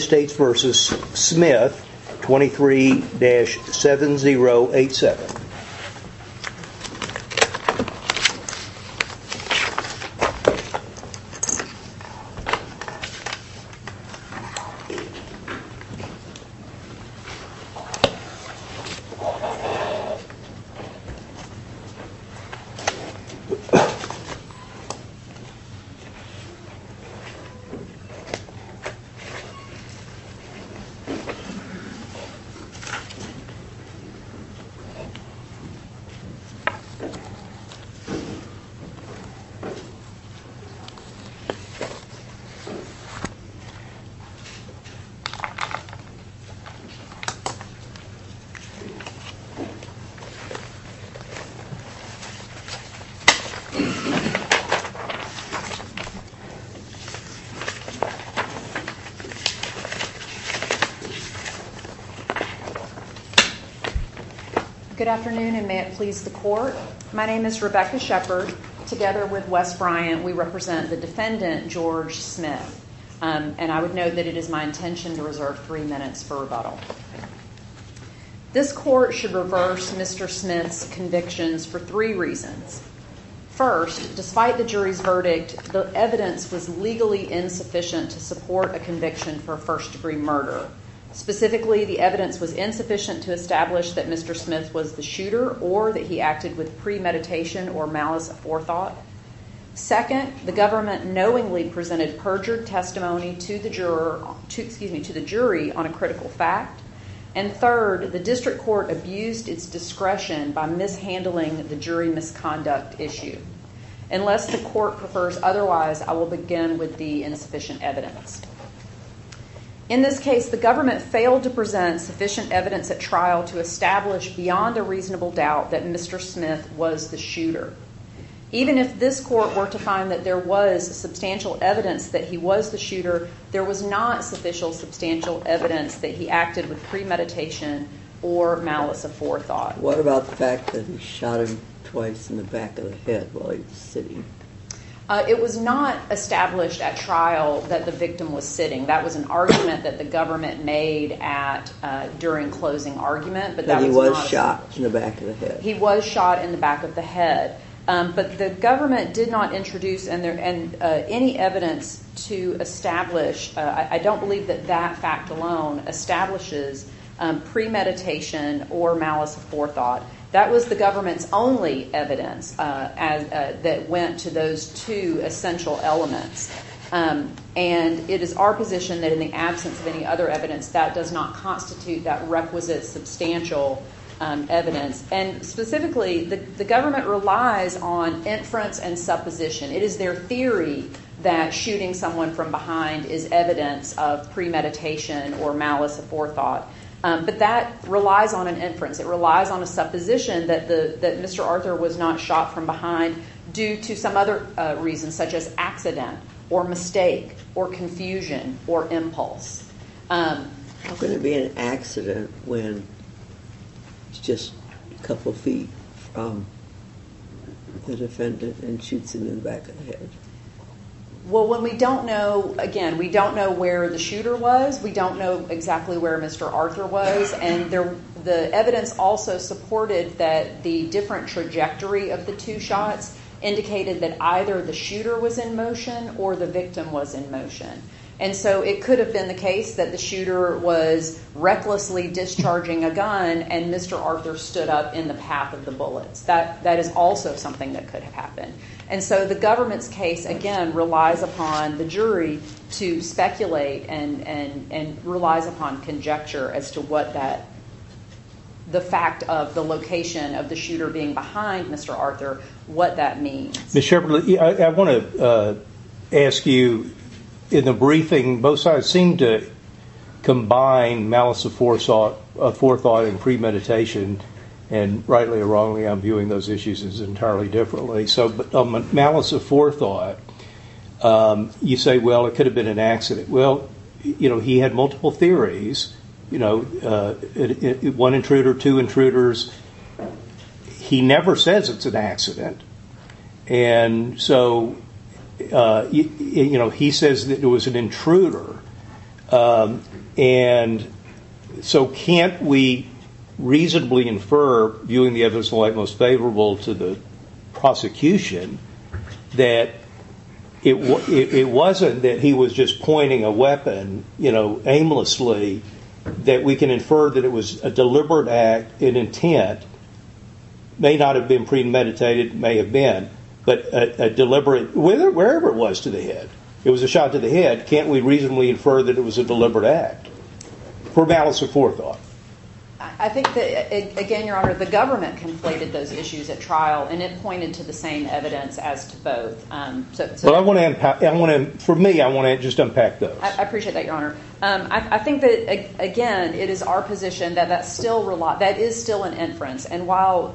23-7087. Good afternoon, and may it please the Court. My name is Rebecca Shepard. Together with Wes Bryant, we represent the defendant, George Smith. And I would note that it is my intention to reserve three minutes for rebuttal. This Court should reverse Mr. Smith's convictions for three reasons. First, despite the jury's verdict, the evidence was legally insufficient to support a conviction for a first-degree murder. Specifically, the evidence was insufficient to establish that Mr. Smith was the shooter or that he acted with premeditation or malice aforethought. Second, the government knowingly presented perjured testimony to the jury on a critical fact. And third, the District Court abused its discretion by mishandling the jury misconduct issue. Unless the Court prefers otherwise, I will begin with the insufficient evidence. In this case, the government failed to present sufficient evidence at trial to establish beyond a reasonable doubt that Mr. Smith was the shooter. Even if this Court were to find that there was substantial evidence that he was the shooter, there was not sufficient substantial evidence that he acted with premeditation or malice aforethought. What about the fact that he shot him twice in the back of the head while he was sitting? It was not established at trial that the victim was sitting. That was an argument that the government made during closing argument. But he was shot in the back of the head? He was shot in the back of the head. But the government did not introduce any evidence to establish. I don't believe that that fact alone establishes premeditation or malice aforethought. That was the government's only evidence that went to those two essential elements. And it is our position that in the absence of any other evidence, that does not constitute that requisite substantial evidence. And specifically, the government relies on inference and supposition. It is their theory that shooting someone from behind is evidence of premeditation or malice aforethought. But that relies on an inference. It relies on a supposition that Mr. Arthur was not shot from behind due to some other reasons, such as accident or mistake or confusion or impulse. Could it be an accident when it's just a couple feet from the defendant and shoots him in the back of the head? Well, when we don't know, again, we don't know where the shooter was. We don't know exactly where Mr. Arthur was. And the evidence also supported that the different trajectory of the two shots indicated that either the shooter was in motion or the victim was in motion. And so it could have been the case that the shooter was recklessly discharging a gun and Mr. Arthur stood up in the path of the bullets. That is also something that could have happened. And so the government's case, again, relies upon the jury to speculate and relies upon conjecture as to what the fact of the location of the shooter being behind Mr. Arthur, what that means. Ms. Shepard, I want to ask you, in the briefing, both sides seem to combine malice of forethought and premeditation, and rightly or wrongly, I'm viewing those issues entirely differently. Malice of forethought, you say, well, it could have been an accident. Well, he had multiple theories, one intruder, two intruders. He never says it's an accident. And so he says that it was an intruder. And so can't we reasonably infer, viewing the evidence of the like most favorable to the prosecution, that it wasn't that he was just pointing a weapon aimlessly, that we can infer that it was a deliberate act in intent, may not have been premeditated, may have been, but a deliberate, wherever it was, to the head. It was a shot to the head. Can't we reasonably infer that it was a deliberate act for malice of forethought? I think that, again, Your Honor, the government conflated those issues at trial, and it pointed to the same evidence as to both. For me, I want to just unpack those. I appreciate that, Your Honor. I think that, again, it is our position that that is still an inference. And while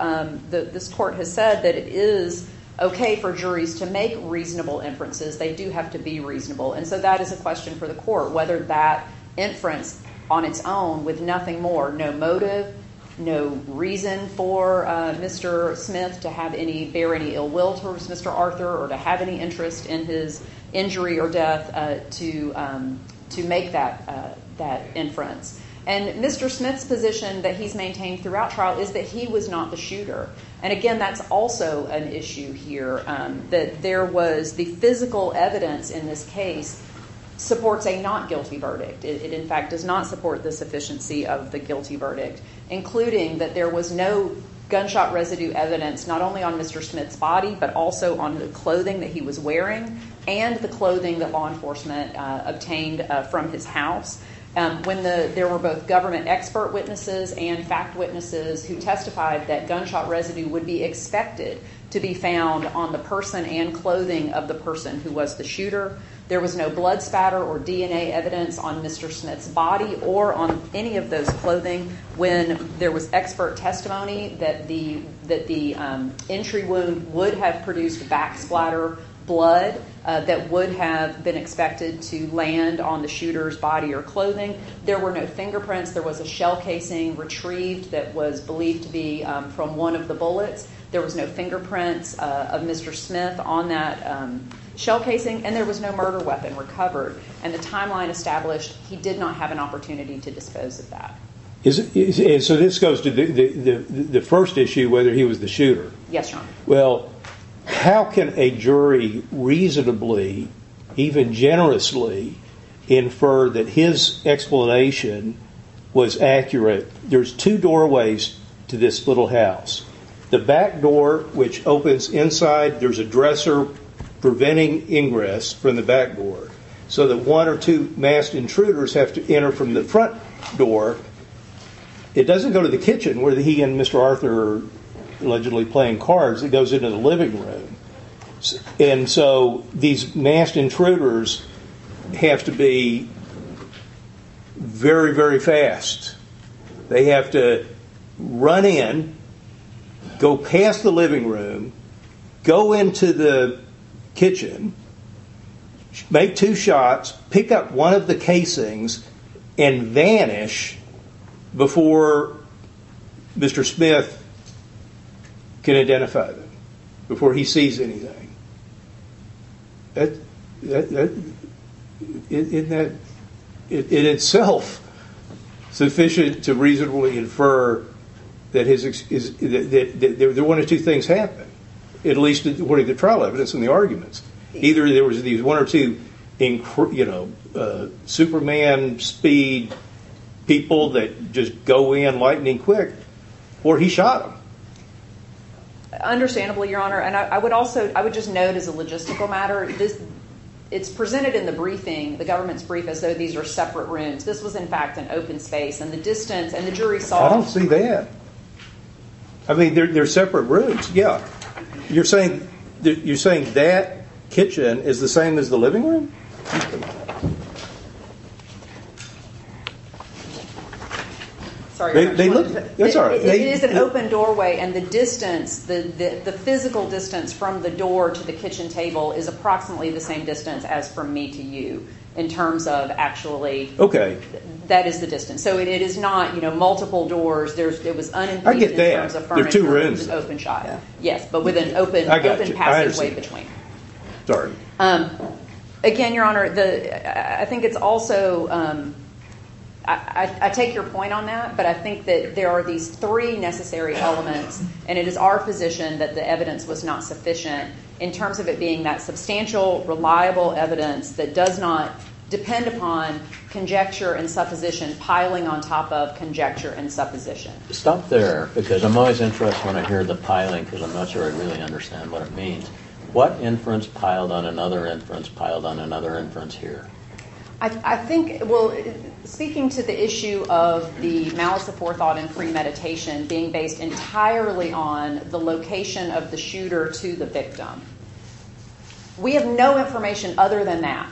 this court has said that it is okay for juries to make reasonable inferences, they do have to be reasonable. And so that is a question for the court, whether that inference on its own with nothing more, no motive, no reason for Mr. Smith to bear any ill will towards Mr. Arthur or to have any interest in his injury or death to make that inference. And Mr. Smith's position that he's maintained throughout trial is that he was not the shooter. And, again, that's also an issue here, that there was the physical evidence in this case supports a not guilty verdict. It, in fact, does not support the sufficiency of the guilty verdict, including that there was no gunshot residue evidence not only on Mr. Smith's body but also on the clothing that he was wearing and the clothing that law enforcement obtained from his house. When there were both government expert witnesses and fact witnesses who testified that gunshot residue would be expected to be found on the person and clothing of the person who was the shooter, there was no blood spatter or DNA evidence on Mr. Smith's body or on any of those clothing. When there was expert testimony that the entry wound would have produced back splatter blood that would have been expected to land on the shooter's body or clothing, there were no fingerprints. There was a shell casing retrieved that was believed to be from one of the bullets. There was no fingerprints of Mr. Smith on that shell casing, and there was no murder weapon recovered. And the timeline established he did not have an opportunity to dispose of that. And so this goes to the first issue, whether he was the shooter. Yes, Your Honor. Well, how can a jury reasonably, even generously, infer that his explanation was accurate? There's two doorways to this little house. The back door, which opens inside, there's a dresser preventing ingress from the back door so that one or two masked intruders have to enter from the front door. It doesn't go to the kitchen where he and Mr. Arthur are allegedly playing cards. It goes into the living room. And so these masked intruders have to be very, very fast. They have to run in, go past the living room, go into the kitchen, make two shots, pick up one of the casings, and vanish before Mr. Smith can identify them, before he sees anything. In itself, sufficient to reasonably infer that one or two things happened, at least according to the trial evidence and the arguments. Either there was one or two Superman-speed people that just go in lightning quick, or he shot them. Understandably, Your Honor. And I would also just note as a logistical matter, it's presented in the briefing, the government's briefing, as though these were separate rooms. This was, in fact, an open space, and the distance and the jury saw it. I don't see that. I mean, they're separate rooms. You're saying that kitchen is the same as the living room? It is an open doorway, and the distance, the physical distance from the door to the kitchen table is approximately the same distance as from me to you, in terms of actually that is the distance. So it is not multiple doors. I get that. They're two rooms. Yes, but with an open passageway between. Sorry. Again, Your Honor, I think it's also, I take your point on that, but I think that there are these three necessary elements, and it is our position that the evidence was not sufficient, in terms of it being that substantial, reliable evidence that does not depend upon conjecture and supposition Stop there, because I'm always interested when I hear the piling, because I'm not sure I really understand what it means. What inference piled on another inference piled on another inference here? I think, well, speaking to the issue of the malice of forethought and premeditation being based entirely on the location of the shooter to the victim, we have no information other than that,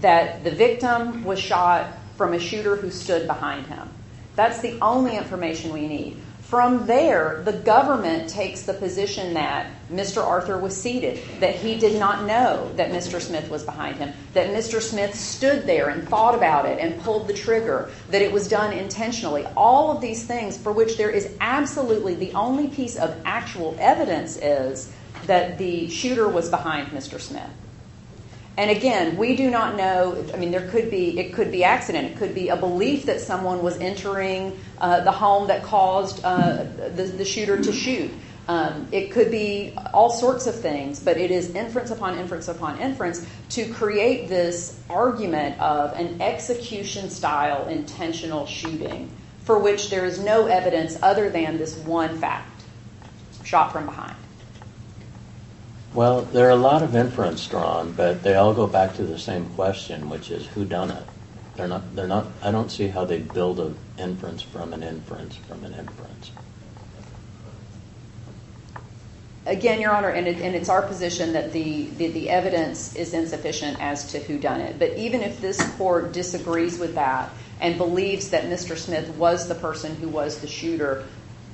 that the victim was shot from a shooter who stood behind him. That's the only information we need. From there, the government takes the position that Mr. Arthur was seated, that he did not know that Mr. Smith was behind him, that Mr. Smith stood there and thought about it and pulled the trigger, that it was done intentionally. All of these things for which there is absolutely the only piece of actual evidence is that the shooter was behind Mr. Smith. And again, we do not know. I mean, there could be, it could be accident. It could be a belief that someone was entering the home that caused the shooter to shoot. It could be all sorts of things, but it is inference upon inference upon inference to create this argument of an execution-style intentional shooting for which there is no evidence other than this one fact, shot from behind. Well, there are a lot of inference drawn, but they all go back to the same question, which is who done it? I don't see how they build an inference from an inference from an inference. Again, Your Honor, and it's our position that the evidence is insufficient as to who done it. But even if this court disagrees with that and believes that Mr. Smith was the person who was the shooter,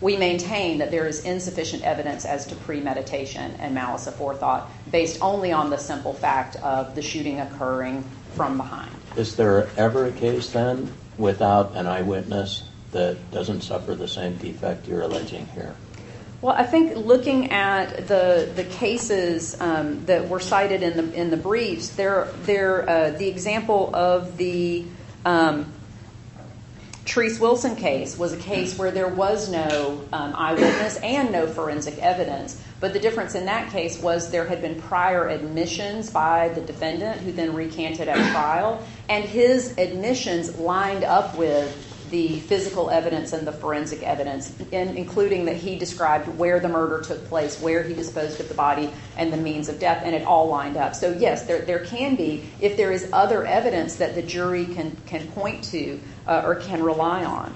we maintain that there is insufficient evidence as to premeditation and malice aforethought based only on the simple fact of the shooting occurring from behind. Is there ever a case then without an eyewitness that doesn't suffer the same defect you're alleging here? Well, I think looking at the cases that were cited in the briefs, the example of the Therese Wilson case was a case where there was no eyewitness and no forensic evidence. But the difference in that case was there had been prior admissions by the defendant who then recanted at trial, and his admissions lined up with the physical evidence and the forensic evidence, including that he described where the murder took place, where he disposed of the body, and the means of death, and it all lined up. So, yes, there can be if there is other evidence that the jury can point to or can rely on.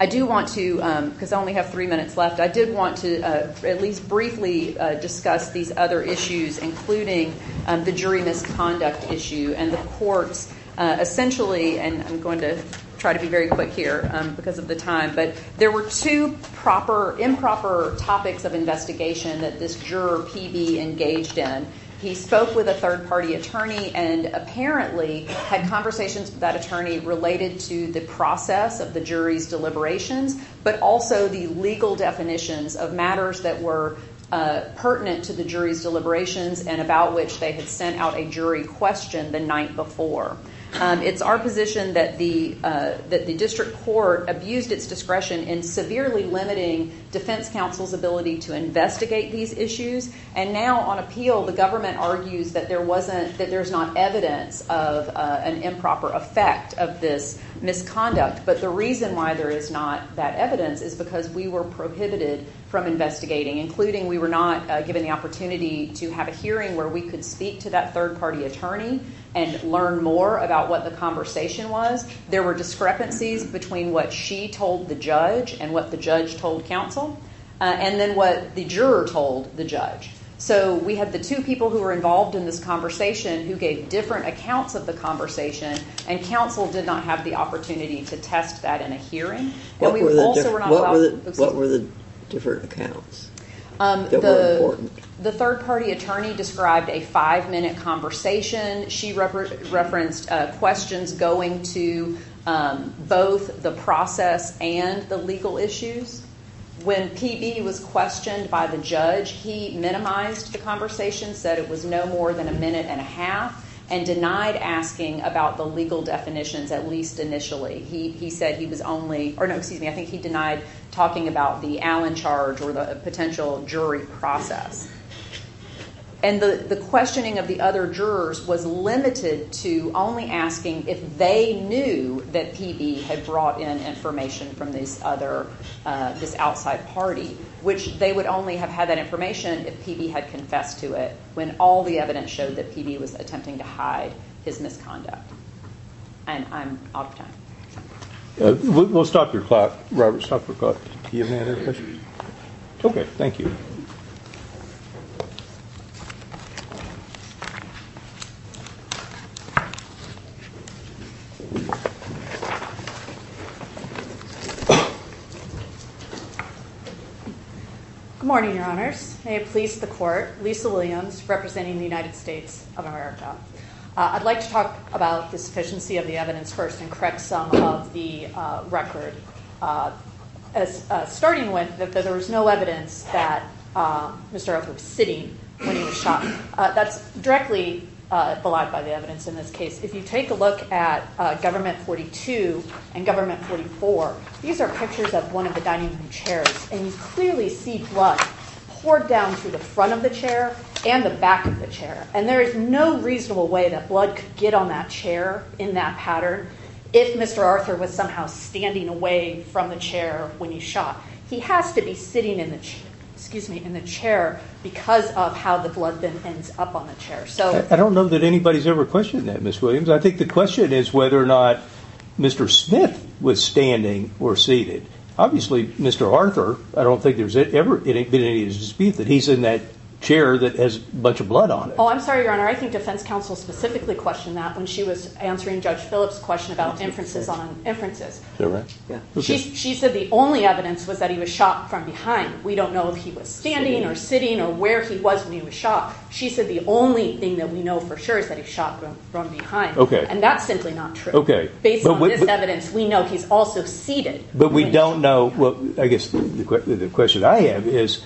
I do want to, because I only have three minutes left, I did want to at least briefly discuss these other issues, including the jury misconduct issue and the courts essentially, and I'm going to try to be very quick here because of the time, but there were two improper topics of investigation that this juror, PB, engaged in. He spoke with a third-party attorney and apparently had conversations with that attorney related to the process of the jury's deliberations, but also the legal definitions of matters that were pertinent to the jury's deliberations and about which they had sent out a jury question the night before. It's our position that the district court abused its discretion in severely limiting defense counsel's ability to investigate these issues, and now on appeal the government argues that there's not evidence of an improper effect of this misconduct, but the reason why there is not that evidence is because we were prohibited from investigating, including we were not given the opportunity to have a hearing where we could speak to that third-party attorney and learn more about what the conversation was. There were discrepancies between what she told the judge and what the judge told counsel, and then what the juror told the judge. So we had the two people who were involved in this conversation who gave different accounts of the conversation, and counsel did not have the opportunity to test that in a hearing. What were the different accounts that were important? The third-party attorney described a five-minute conversation. She referenced questions going to both the process and the legal issues. When PB was questioned by the judge, he minimized the conversation, said it was no more than a minute and a half, and denied asking about the legal definitions, at least initially. He said he was only or no, excuse me, I think he denied talking about the Allen charge or the potential jury process. And the questioning of the other jurors was limited to only asking if they knew that PB had brought in information from this other, this outside party, which they would only have had that information if PB had confessed to it when all the evidence showed that PB was attempting to hide his misconduct. And I'm out of time. We'll stop your clock, Robert. Stop your clock. Do you have any other questions? Okay, thank you. Good morning, Your Honors. May it please the Court. Lisa Williams representing the United States of America. I'd like to talk about the sufficiency of the evidence first and correct some of the record. Starting with that there was no evidence that Mr. Arthur was sitting when he was shot. That's directly belied by the evidence in this case. If you take a look at Government 42 and Government 44, these are pictures of one of the dining room chairs, and you clearly see blood poured down through the front of the chair and the back of the chair. And there is no reasonable way that blood could get on that chair in that pattern if Mr. Arthur was somehow standing away from the chair when he shot. He has to be sitting in the chair because of how the blood then ends up on the chair. I don't know that anybody's ever questioned that, Ms. Williams. I think the question is whether or not Mr. Smith was standing or seated. Obviously, Mr. Arthur, I don't think there's ever been any dispute that he's in that chair that has a bunch of blood on it. Oh, I'm sorry, Your Honor. I think defense counsel specifically questioned that when she was answering Judge Phillips' question about inferences on inferences. She said the only evidence was that he was shot from behind. We don't know if he was standing or sitting or where he was when he was shot. She said the only thing that we know for sure is that he was shot from behind, and that's simply not true. Based on this evidence, we know he's also seated. I guess the question I have is,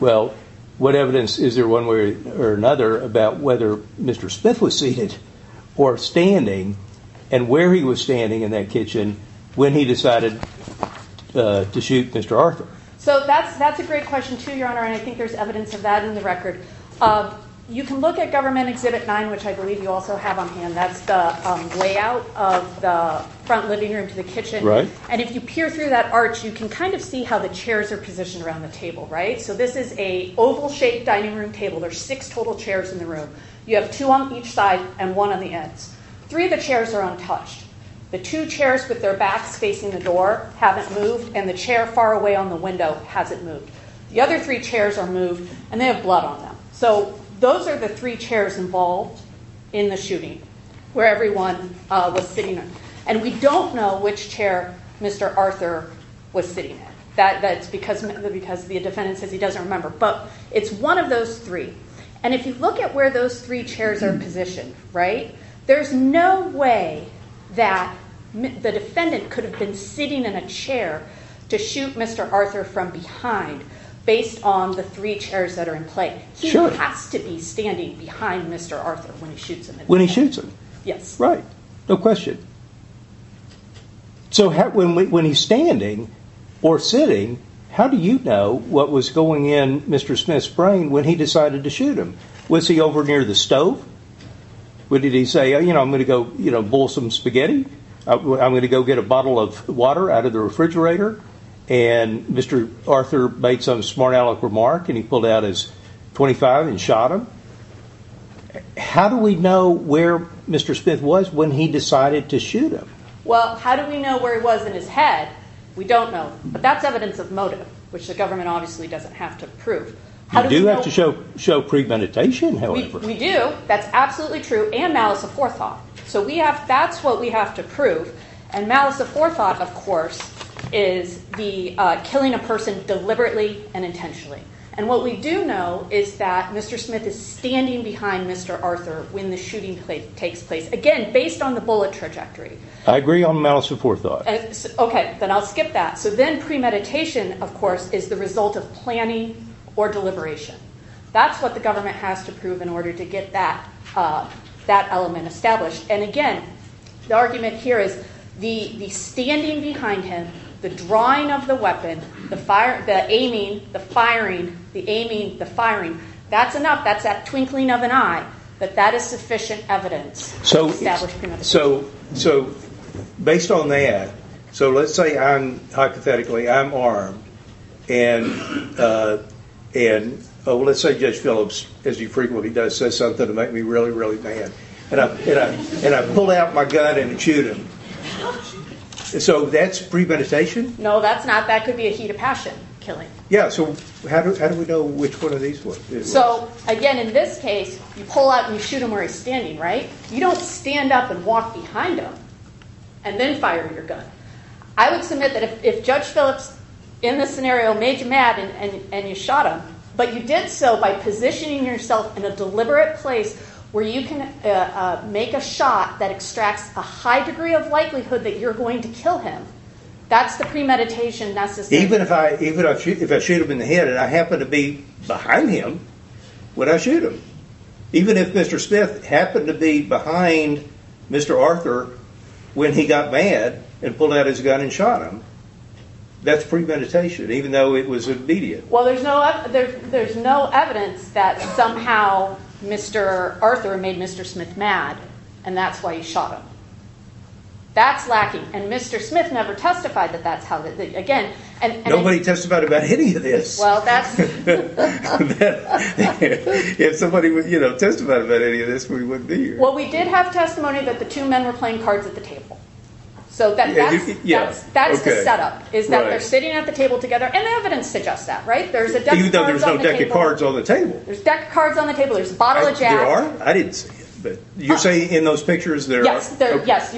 well, what evidence is there one way or another about whether Mr. Smith was seated or standing and where he was standing in that kitchen when he decided to shoot Mr. Arthur? That's a great question, too, Your Honor, and I think there's evidence of that in the record. You can look at Government Exhibit 9, which I believe you also have on hand. That's the layout of the front living room to the kitchen. And if you peer through that arch, you can kind of see how the chairs are positioned around the table. So this is an oval-shaped dining room table. There are six total chairs in the room. You have two on each side and one on the ends. Three of the chairs are untouched. The two chairs with their backs facing the door haven't moved, and the chair far away on the window hasn't moved. The other three chairs are moved, and they have blood on them. So those are the three chairs involved in the shooting where everyone was sitting. And we don't know which chair Mr. Arthur was sitting in. That's because the defendant says he doesn't remember, but it's one of those three. And if you look at where those three chairs are positioned, right, there's no way that the defendant could have been sitting in a chair to shoot Mr. Arthur from behind based on the three chairs that are in play. He has to be standing behind Mr. Arthur when he shoots him. When he shoots him? Yes. Right. No question. So when he's standing or sitting, how do you know what was going in Mr. Smith's brain when he decided to shoot him? Was he over near the stove? Did he say, you know, I'm going to go boil some spaghetti. I'm going to go get a bottle of water out of the refrigerator. And Mr. Arthur made some smart aleck remark, and he pulled out his .25 and shot him. How do we know where Mr. Smith was when he decided to shoot him? Well, how do we know where he was in his head? We don't know. But that's evidence of motive, which the government obviously doesn't have to prove. You do have to show premeditation, however. We do. That's absolutely true. And malice of forethought. So that's what we have to prove. And malice of forethought, of course, is killing a person deliberately and intentionally. And what we do know is that Mr. Smith is standing behind Mr. Arthur when the shooting takes place. Again, based on the bullet trajectory. I agree on malice of forethought. Okay. Then I'll skip that. So then premeditation, of course, is the result of planning or deliberation. That's what the government has to prove in order to get that element established. And again, the argument here is the standing behind him, the drawing of the weapon, the aiming, the firing, the aiming, the firing. That's enough. That's that twinkling of an eye. But that is sufficient evidence to establish premeditation. So based on that, so let's say hypothetically I'm armed. And let's say Judge Phillips, as he frequently does, says something to make me really, really mad. And I pull out my gun and shoot him. So that's premeditation? No, that's not. That could be a heat of passion, killing. Yeah, so how do we know which one of these works? So, again, in this case, you pull out and you shoot him where he's standing, right? You don't stand up and walk behind him and then fire your gun. I would submit that if Judge Phillips in this scenario made you mad and you shot him, but you did so by positioning yourself in a deliberate place where you can make a shot that extracts a high degree of likelihood that you're going to kill him. That's the premeditation necessary. Even if I shoot him in the head and I happen to be behind him when I shoot him, even if Mr. Smith happened to be behind Mr. Arthur when he got mad and pulled out his gun and shot him, that's premeditation, even though it was immediate. Well, there's no evidence that somehow Mr. Arthur made Mr. Smith mad and that's why he shot him. That's lacking. And Mr. Smith never testified that that's how he did it. Nobody testified about any of this. Well, that's... If somebody would testify about any of this, we wouldn't be here. Well, we did have testimony that the two men were playing cards at the table. So that's the setup, is that they're sitting at the table together. And evidence suggests that, right? There's a deck of cards on the table. Even though there's no deck of cards on the table. There's deck of cards on the table. There's a bottle of Jack. There are? I didn't see it. You say in those pictures there are? Yes.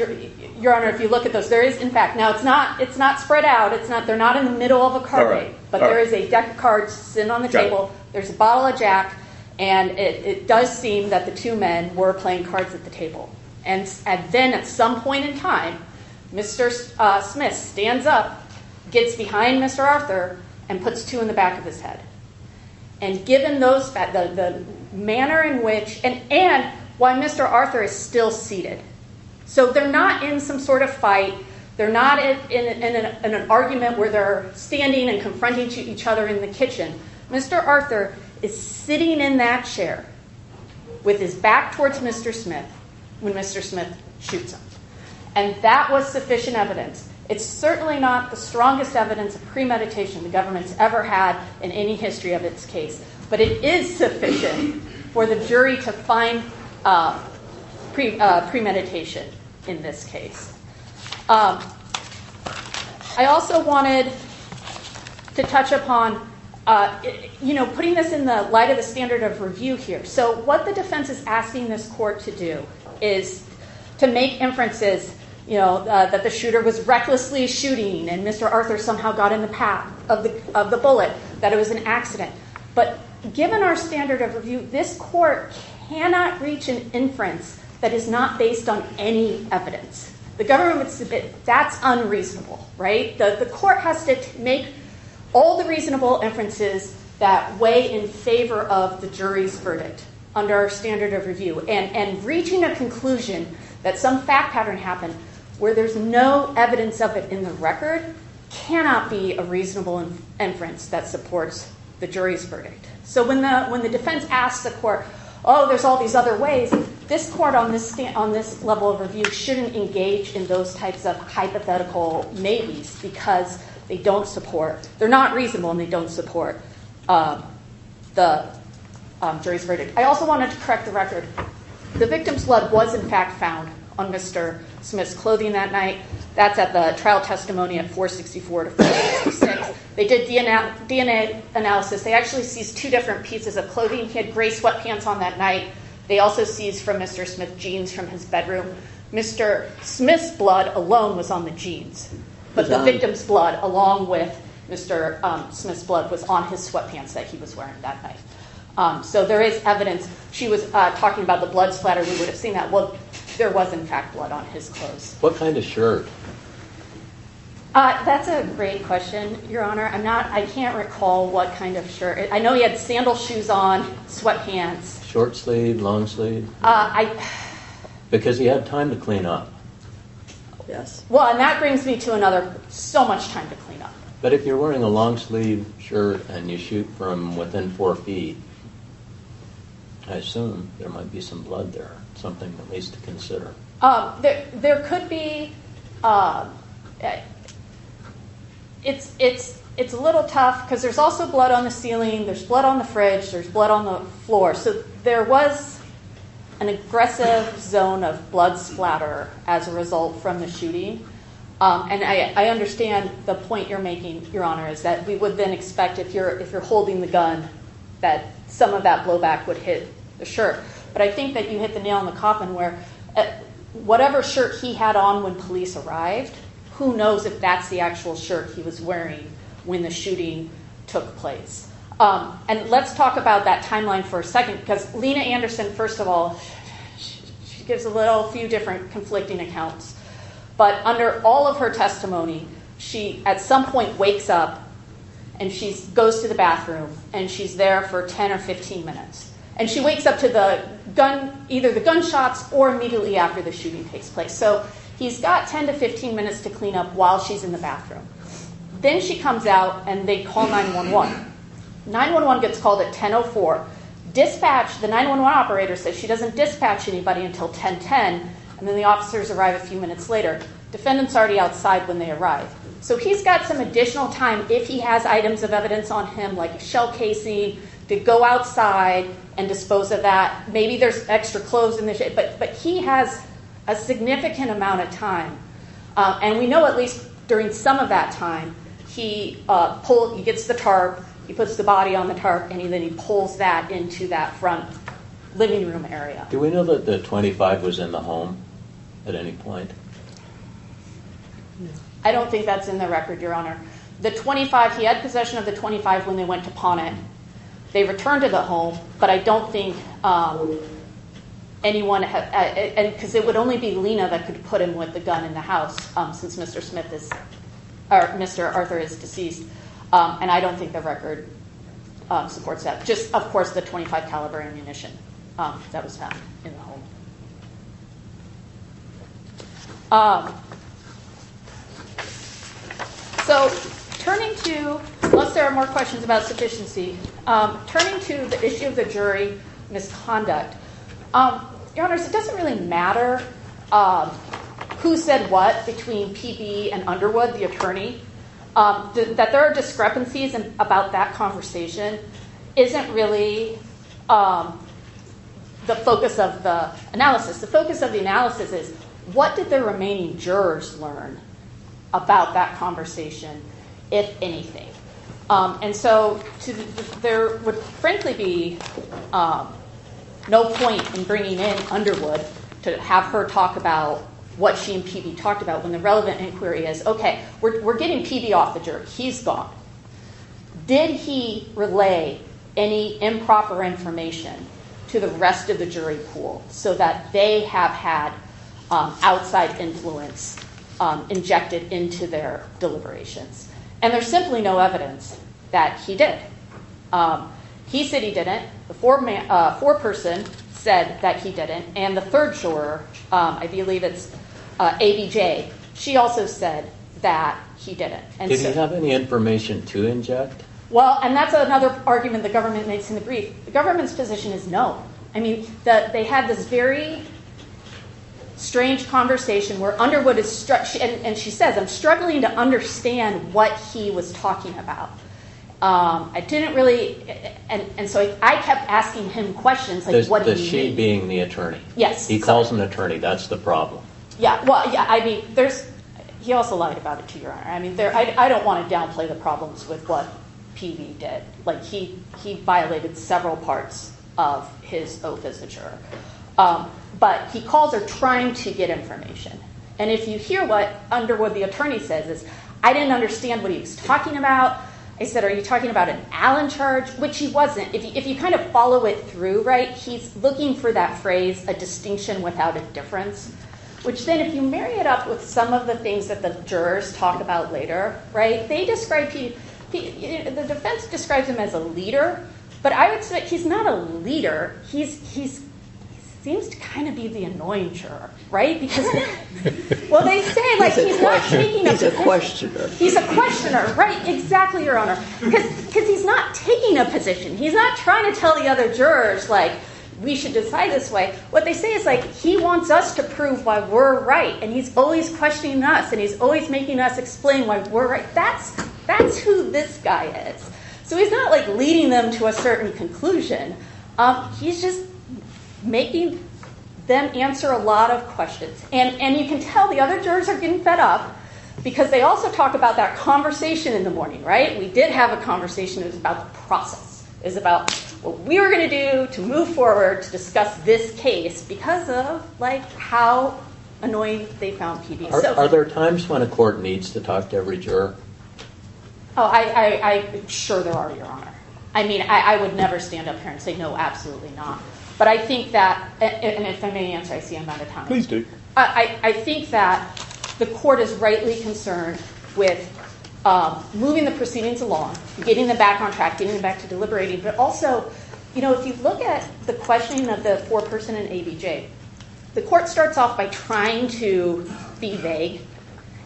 Your Honor, if you look at those, there is, in fact. Now, it's not spread out. They're not in the middle of a card game. But there is a deck of cards sitting on the table. There's a bottle of Jack. And it does seem that the two men were playing cards at the table. And then at some point in time, Mr. Smith stands up, gets behind Mr. Arthur, and puts two in the back of his head. And given the manner in which and why Mr. Arthur is still seated. So they're not in some sort of fight. They're not in an argument where they're standing and confronting each other in the kitchen. Mr. Arthur is sitting in that chair with his back towards Mr. Smith when Mr. Smith shoots him. And that was sufficient evidence. It's certainly not the strongest evidence of premeditation the government's ever had in any history of its case. But it is sufficient for the jury to find premeditation in this case. I also wanted to touch upon putting this in the light of the standard of review here. So what the defense is asking this court to do is to make inferences that the shooter was recklessly shooting and Mr. Arthur somehow got in the path of the bullet, that it was an accident. But given our standard of review, this court cannot reach an inference that is not based on any evidence. The government would submit that's unreasonable. The court has to make all the reasonable inferences that weigh in favor of the jury's verdict under our standard of review. And reaching a conclusion that some fact pattern happened where there's no evidence of it in the record cannot be a reasonable inference that supports the jury's verdict. So when the defense asks the court, oh, there's all these other ways, this court on this level of review shouldn't engage in those types of hypothetical maybes because they're not reasonable and they don't support the jury's verdict. I also wanted to correct the record. The victim's blood was in fact found on Mr. Smith's clothing that night. That's at the trial testimony at 464 to 466. They did DNA analysis. They actually seized two different pieces of clothing. He had gray sweatpants on that night. They also seized from Mr. Smith jeans from his bedroom. Mr. Smith's blood alone was on the jeans, but the victim's blood along with Mr. Smith's blood was on his sweatpants that he was wearing that night. So there is evidence. She was talking about the blood splatter. We would have seen that. Well, there was in fact blood on his clothes. What kind of shirt? That's a great question, Your Honor. I can't recall what kind of shirt. I know he had sandal shoes on, sweatpants. Short sleeve, long sleeve? Because he had time to clean up. Well, and that brings me to another so much time to clean up. But if you're wearing a long sleeve shirt and you shoot from within four feet, I assume there might be some blood there, something at least to consider. There could be. It's a little tough because there's also blood on the ceiling. There's blood on the fridge. There's blood on the floor. So there was an aggressive zone of blood splatter as a result from the shooting. And I understand the point you're making, Your Honor, is that we would then expect if you're holding the gun that some of that blowback would hit the shirt. But I think that you hit the nail on the coffin where whatever shirt he had on when police arrived, who knows if that's the actual shirt he was wearing when the shooting took place. And let's talk about that timeline for a second because Lena Anderson, first of all, she gives a few different conflicting accounts. But under all of her testimony, she at some point wakes up and she goes to the bathroom and she's there for 10 or 15 minutes. And she wakes up to either the gunshots or immediately after the shooting takes place. So he's got 10 to 15 minutes to clean up while she's in the bathroom. Then she comes out and they call 9-1-1. 9-1-1 gets called at 10-04. Dispatch, the 9-1-1 operator says she doesn't dispatch anybody until 10-10 and then the officers arrive a few minutes later. Defendants are already outside when they arrive. So he's got some additional time if he has items of evidence on him like a shell casing to go outside and dispose of that. Maybe there's extra clothes in the shed. But he has a significant amount of time. And we know at least during some of that time he gets the tarp, he puts the body on the tarp, and then he pulls that into that front living room area. Do we know that the .25 was in the home at any point? I don't think that's in the record, Your Honor. The .25, he had possession of the .25 when they went to pawn it. They returned to the home. But I don't think anyone, because it would only be Lena that could put him with the gun in the house since Mr. Arthur is deceased. And I don't think the record supports that. Just, of course, the .25 caliber ammunition that was found in the home. So turning to, unless there are more questions about sufficiency, turning to the issue of the jury misconduct. Your Honors, it doesn't really matter who said what between PB and Underwood, the attorney, that there are discrepancies about that conversation isn't really the focus of the analysis. The focus of the analysis is what did the remaining jurors learn about that conversation, if anything? And so there would frankly be no point in bringing in Underwood to have her talk about what she and PB talked about when the relevant inquiry is, okay, we're getting PB off the jerk. He's gone. Did he relay any improper information to the rest of the jury pool so that they have had outside influence injected into their deliberations? And there's simply no evidence that he did. He said he didn't. The foreperson said that he didn't. And the third juror, I believe it's ABJ, she also said that he didn't. Did he have any information to inject? Well, and that's another argument the government makes in the brief. The government's position is no. I mean, they had this very strange conversation where Underwood is, and she says, I'm struggling to understand what he was talking about. I didn't really, and so I kept asking him questions like what did he mean. The she being the attorney. Yes. He calls him an attorney. That's the problem. Yeah, well, I mean, he also lied about it to your honor. I mean, I don't want to downplay the problems with what PB did. Like he violated several parts of his oath as a juror. But he calls her trying to get information. And if you hear what Underwood the attorney says is, I didn't understand what he was talking about. I said, are you talking about an Allen charge, which he wasn't. If you kind of follow it through, right, he's looking for that phrase a distinction without a difference, which then if you marry it up with some of the things that the jurors talk about later, right, they describe, the defense describes him as a leader. But I would say he's not a leader. He seems to kind of be the annoying juror, right, Well, they say he's a questioner. He's a questioner, right. Exactly. Your honor, because he's not taking a position. He's not trying to tell the other jurors like we should decide this way. What they say is like, he wants us to prove why we're right. And he's always questioning us. And he's always making us explain why we're right. That's that's who this guy is. So he's not like leading them to a certain conclusion. He's just making them answer a lot of questions. And you can tell the other jurors are getting fed up because they also talk about that conversation in the morning, right. We did have a conversation. It was about the process. It was about what we were going to do to move forward to discuss this case because of like how annoying they found PBS. Are there times when a court needs to talk to every juror? Oh, I'm sure there are, your honor. I mean, I would never stand up here and say no, absolutely not. But I think that, and if I may answer, I see I'm out of time. Please do. I think that the court is rightly concerned with moving the proceedings along, getting them back on track, getting them back to deliberating. But also, you know, if you look at the questioning of the poor person in ABJ, the court starts off by trying to be vague.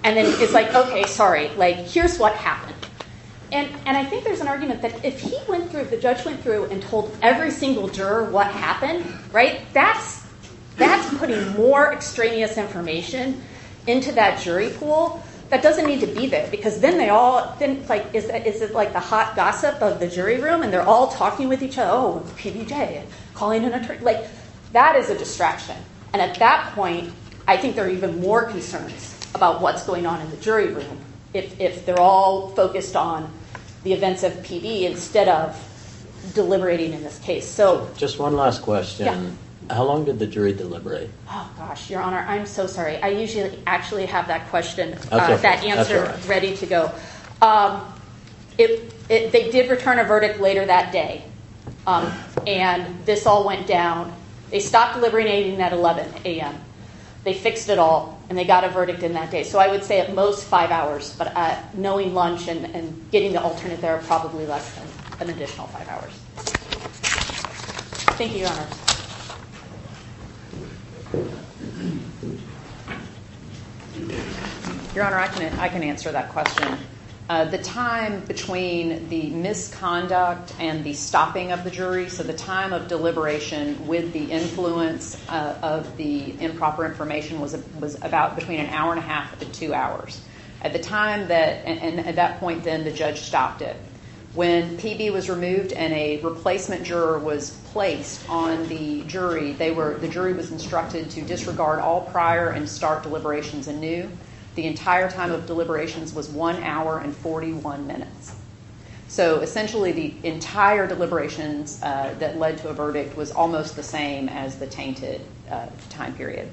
And then it's like, okay, sorry, like here's what happened. And I think there's an argument that if he went through, if the judge went through and told every single juror what happened, right, that's putting more extraneous information into that jury pool that doesn't need to be there because then they all, like is it like the hot gossip of the jury room and they're all talking with each other, oh, PBJ, calling an attorney. Like that is a distraction. And at that point, I think there are even more concerns about what's going on in the jury room if they're all focused on the events of PB instead of deliberating in this case. So just one last question. How long did the jury deliberate? Oh, gosh, Your Honor, I'm so sorry. I usually actually have that question, that answer ready to go. They did return a verdict later that day, and this all went down. They stopped deliberating at 11 a.m. They fixed it all, and they got a verdict in that day. So I would say at most five hours, but knowing lunch and getting the alternate there are probably less than an additional five hours. Thank you, Your Honor. Your Honor, I can answer that question. The time between the misconduct and the stopping of the jury, so the time of deliberation with the influence of the improper information was about between an hour and a half to two hours. At that point then, the judge stopped it. When PB was removed and a replacement juror was placed on the jury, the jury was instructed to disregard all prior and start deliberations anew. The entire time of deliberations was one hour and 41 minutes. So essentially the entire deliberations that led to a verdict was almost the same as the tainted time period.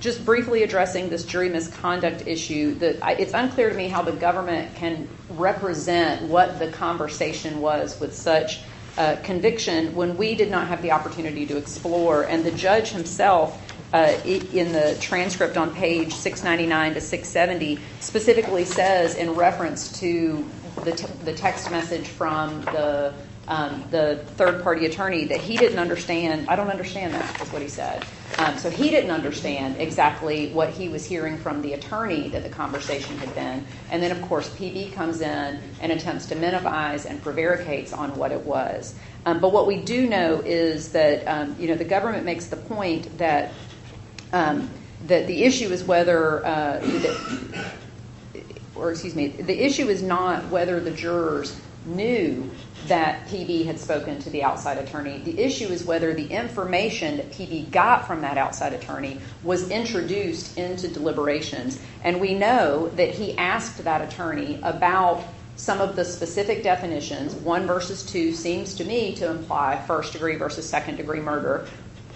Just briefly addressing this jury misconduct issue, it's unclear to me how the government can represent what the conversation was with such conviction when we did not have the opportunity to explore. And the judge himself in the transcript on page 699 to 670 specifically says in reference to the text message from the third-party attorney that he didn't understand. I don't understand that is what he said. So he didn't understand exactly what he was hearing from the attorney that the conversation had been. And then, of course, PB comes in and attempts to minimize and prevaricates on what it was. But what we do know is that the government makes the point that the issue is whether or excuse me, the issue is not whether the jurors knew that PB had spoken to the outside attorney. The issue is whether the information that PB got from that outside attorney was introduced into deliberations. And we know that he asked that attorney about some of the specific definitions, one versus two seems to me to imply first degree versus second degree murder,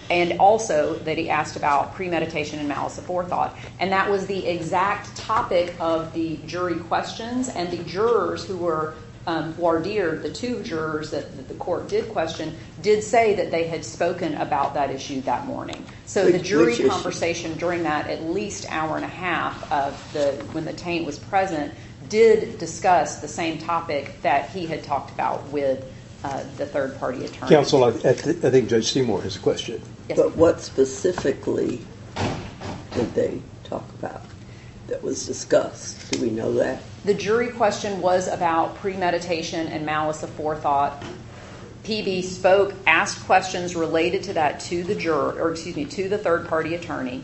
and also that he asked about premeditation and malice of forethought. And that was the exact topic of the jury questions. And the jurors who were voir dire, the two jurors that the court did question, did say that they had spoken about that issue that morning. So the jury conversation during that at least hour and a half of when the taint was present did discuss the same topic that he had talked about with the third-party attorney. Counsel, I think Judge Seymour has a question. Yes. What specifically did they talk about that was discussed? Do we know that? The jury question was about premeditation and malice of forethought. PB spoke, asked questions related to that to the third-party attorney,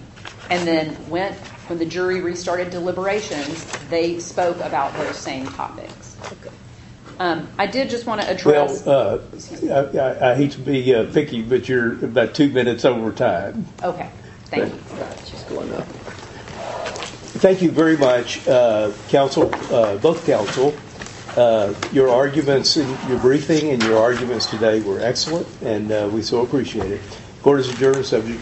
and then when the jury restarted deliberations, they spoke about those same topics. I did just want to address- I hate to be picky, but you're about two minutes over time. Okay. Thank you. She's going up. Thank you very much, both counsel. Your arguments in your briefing and your arguments today were excellent, and we so appreciate it. Court is adjourned, subject to recall.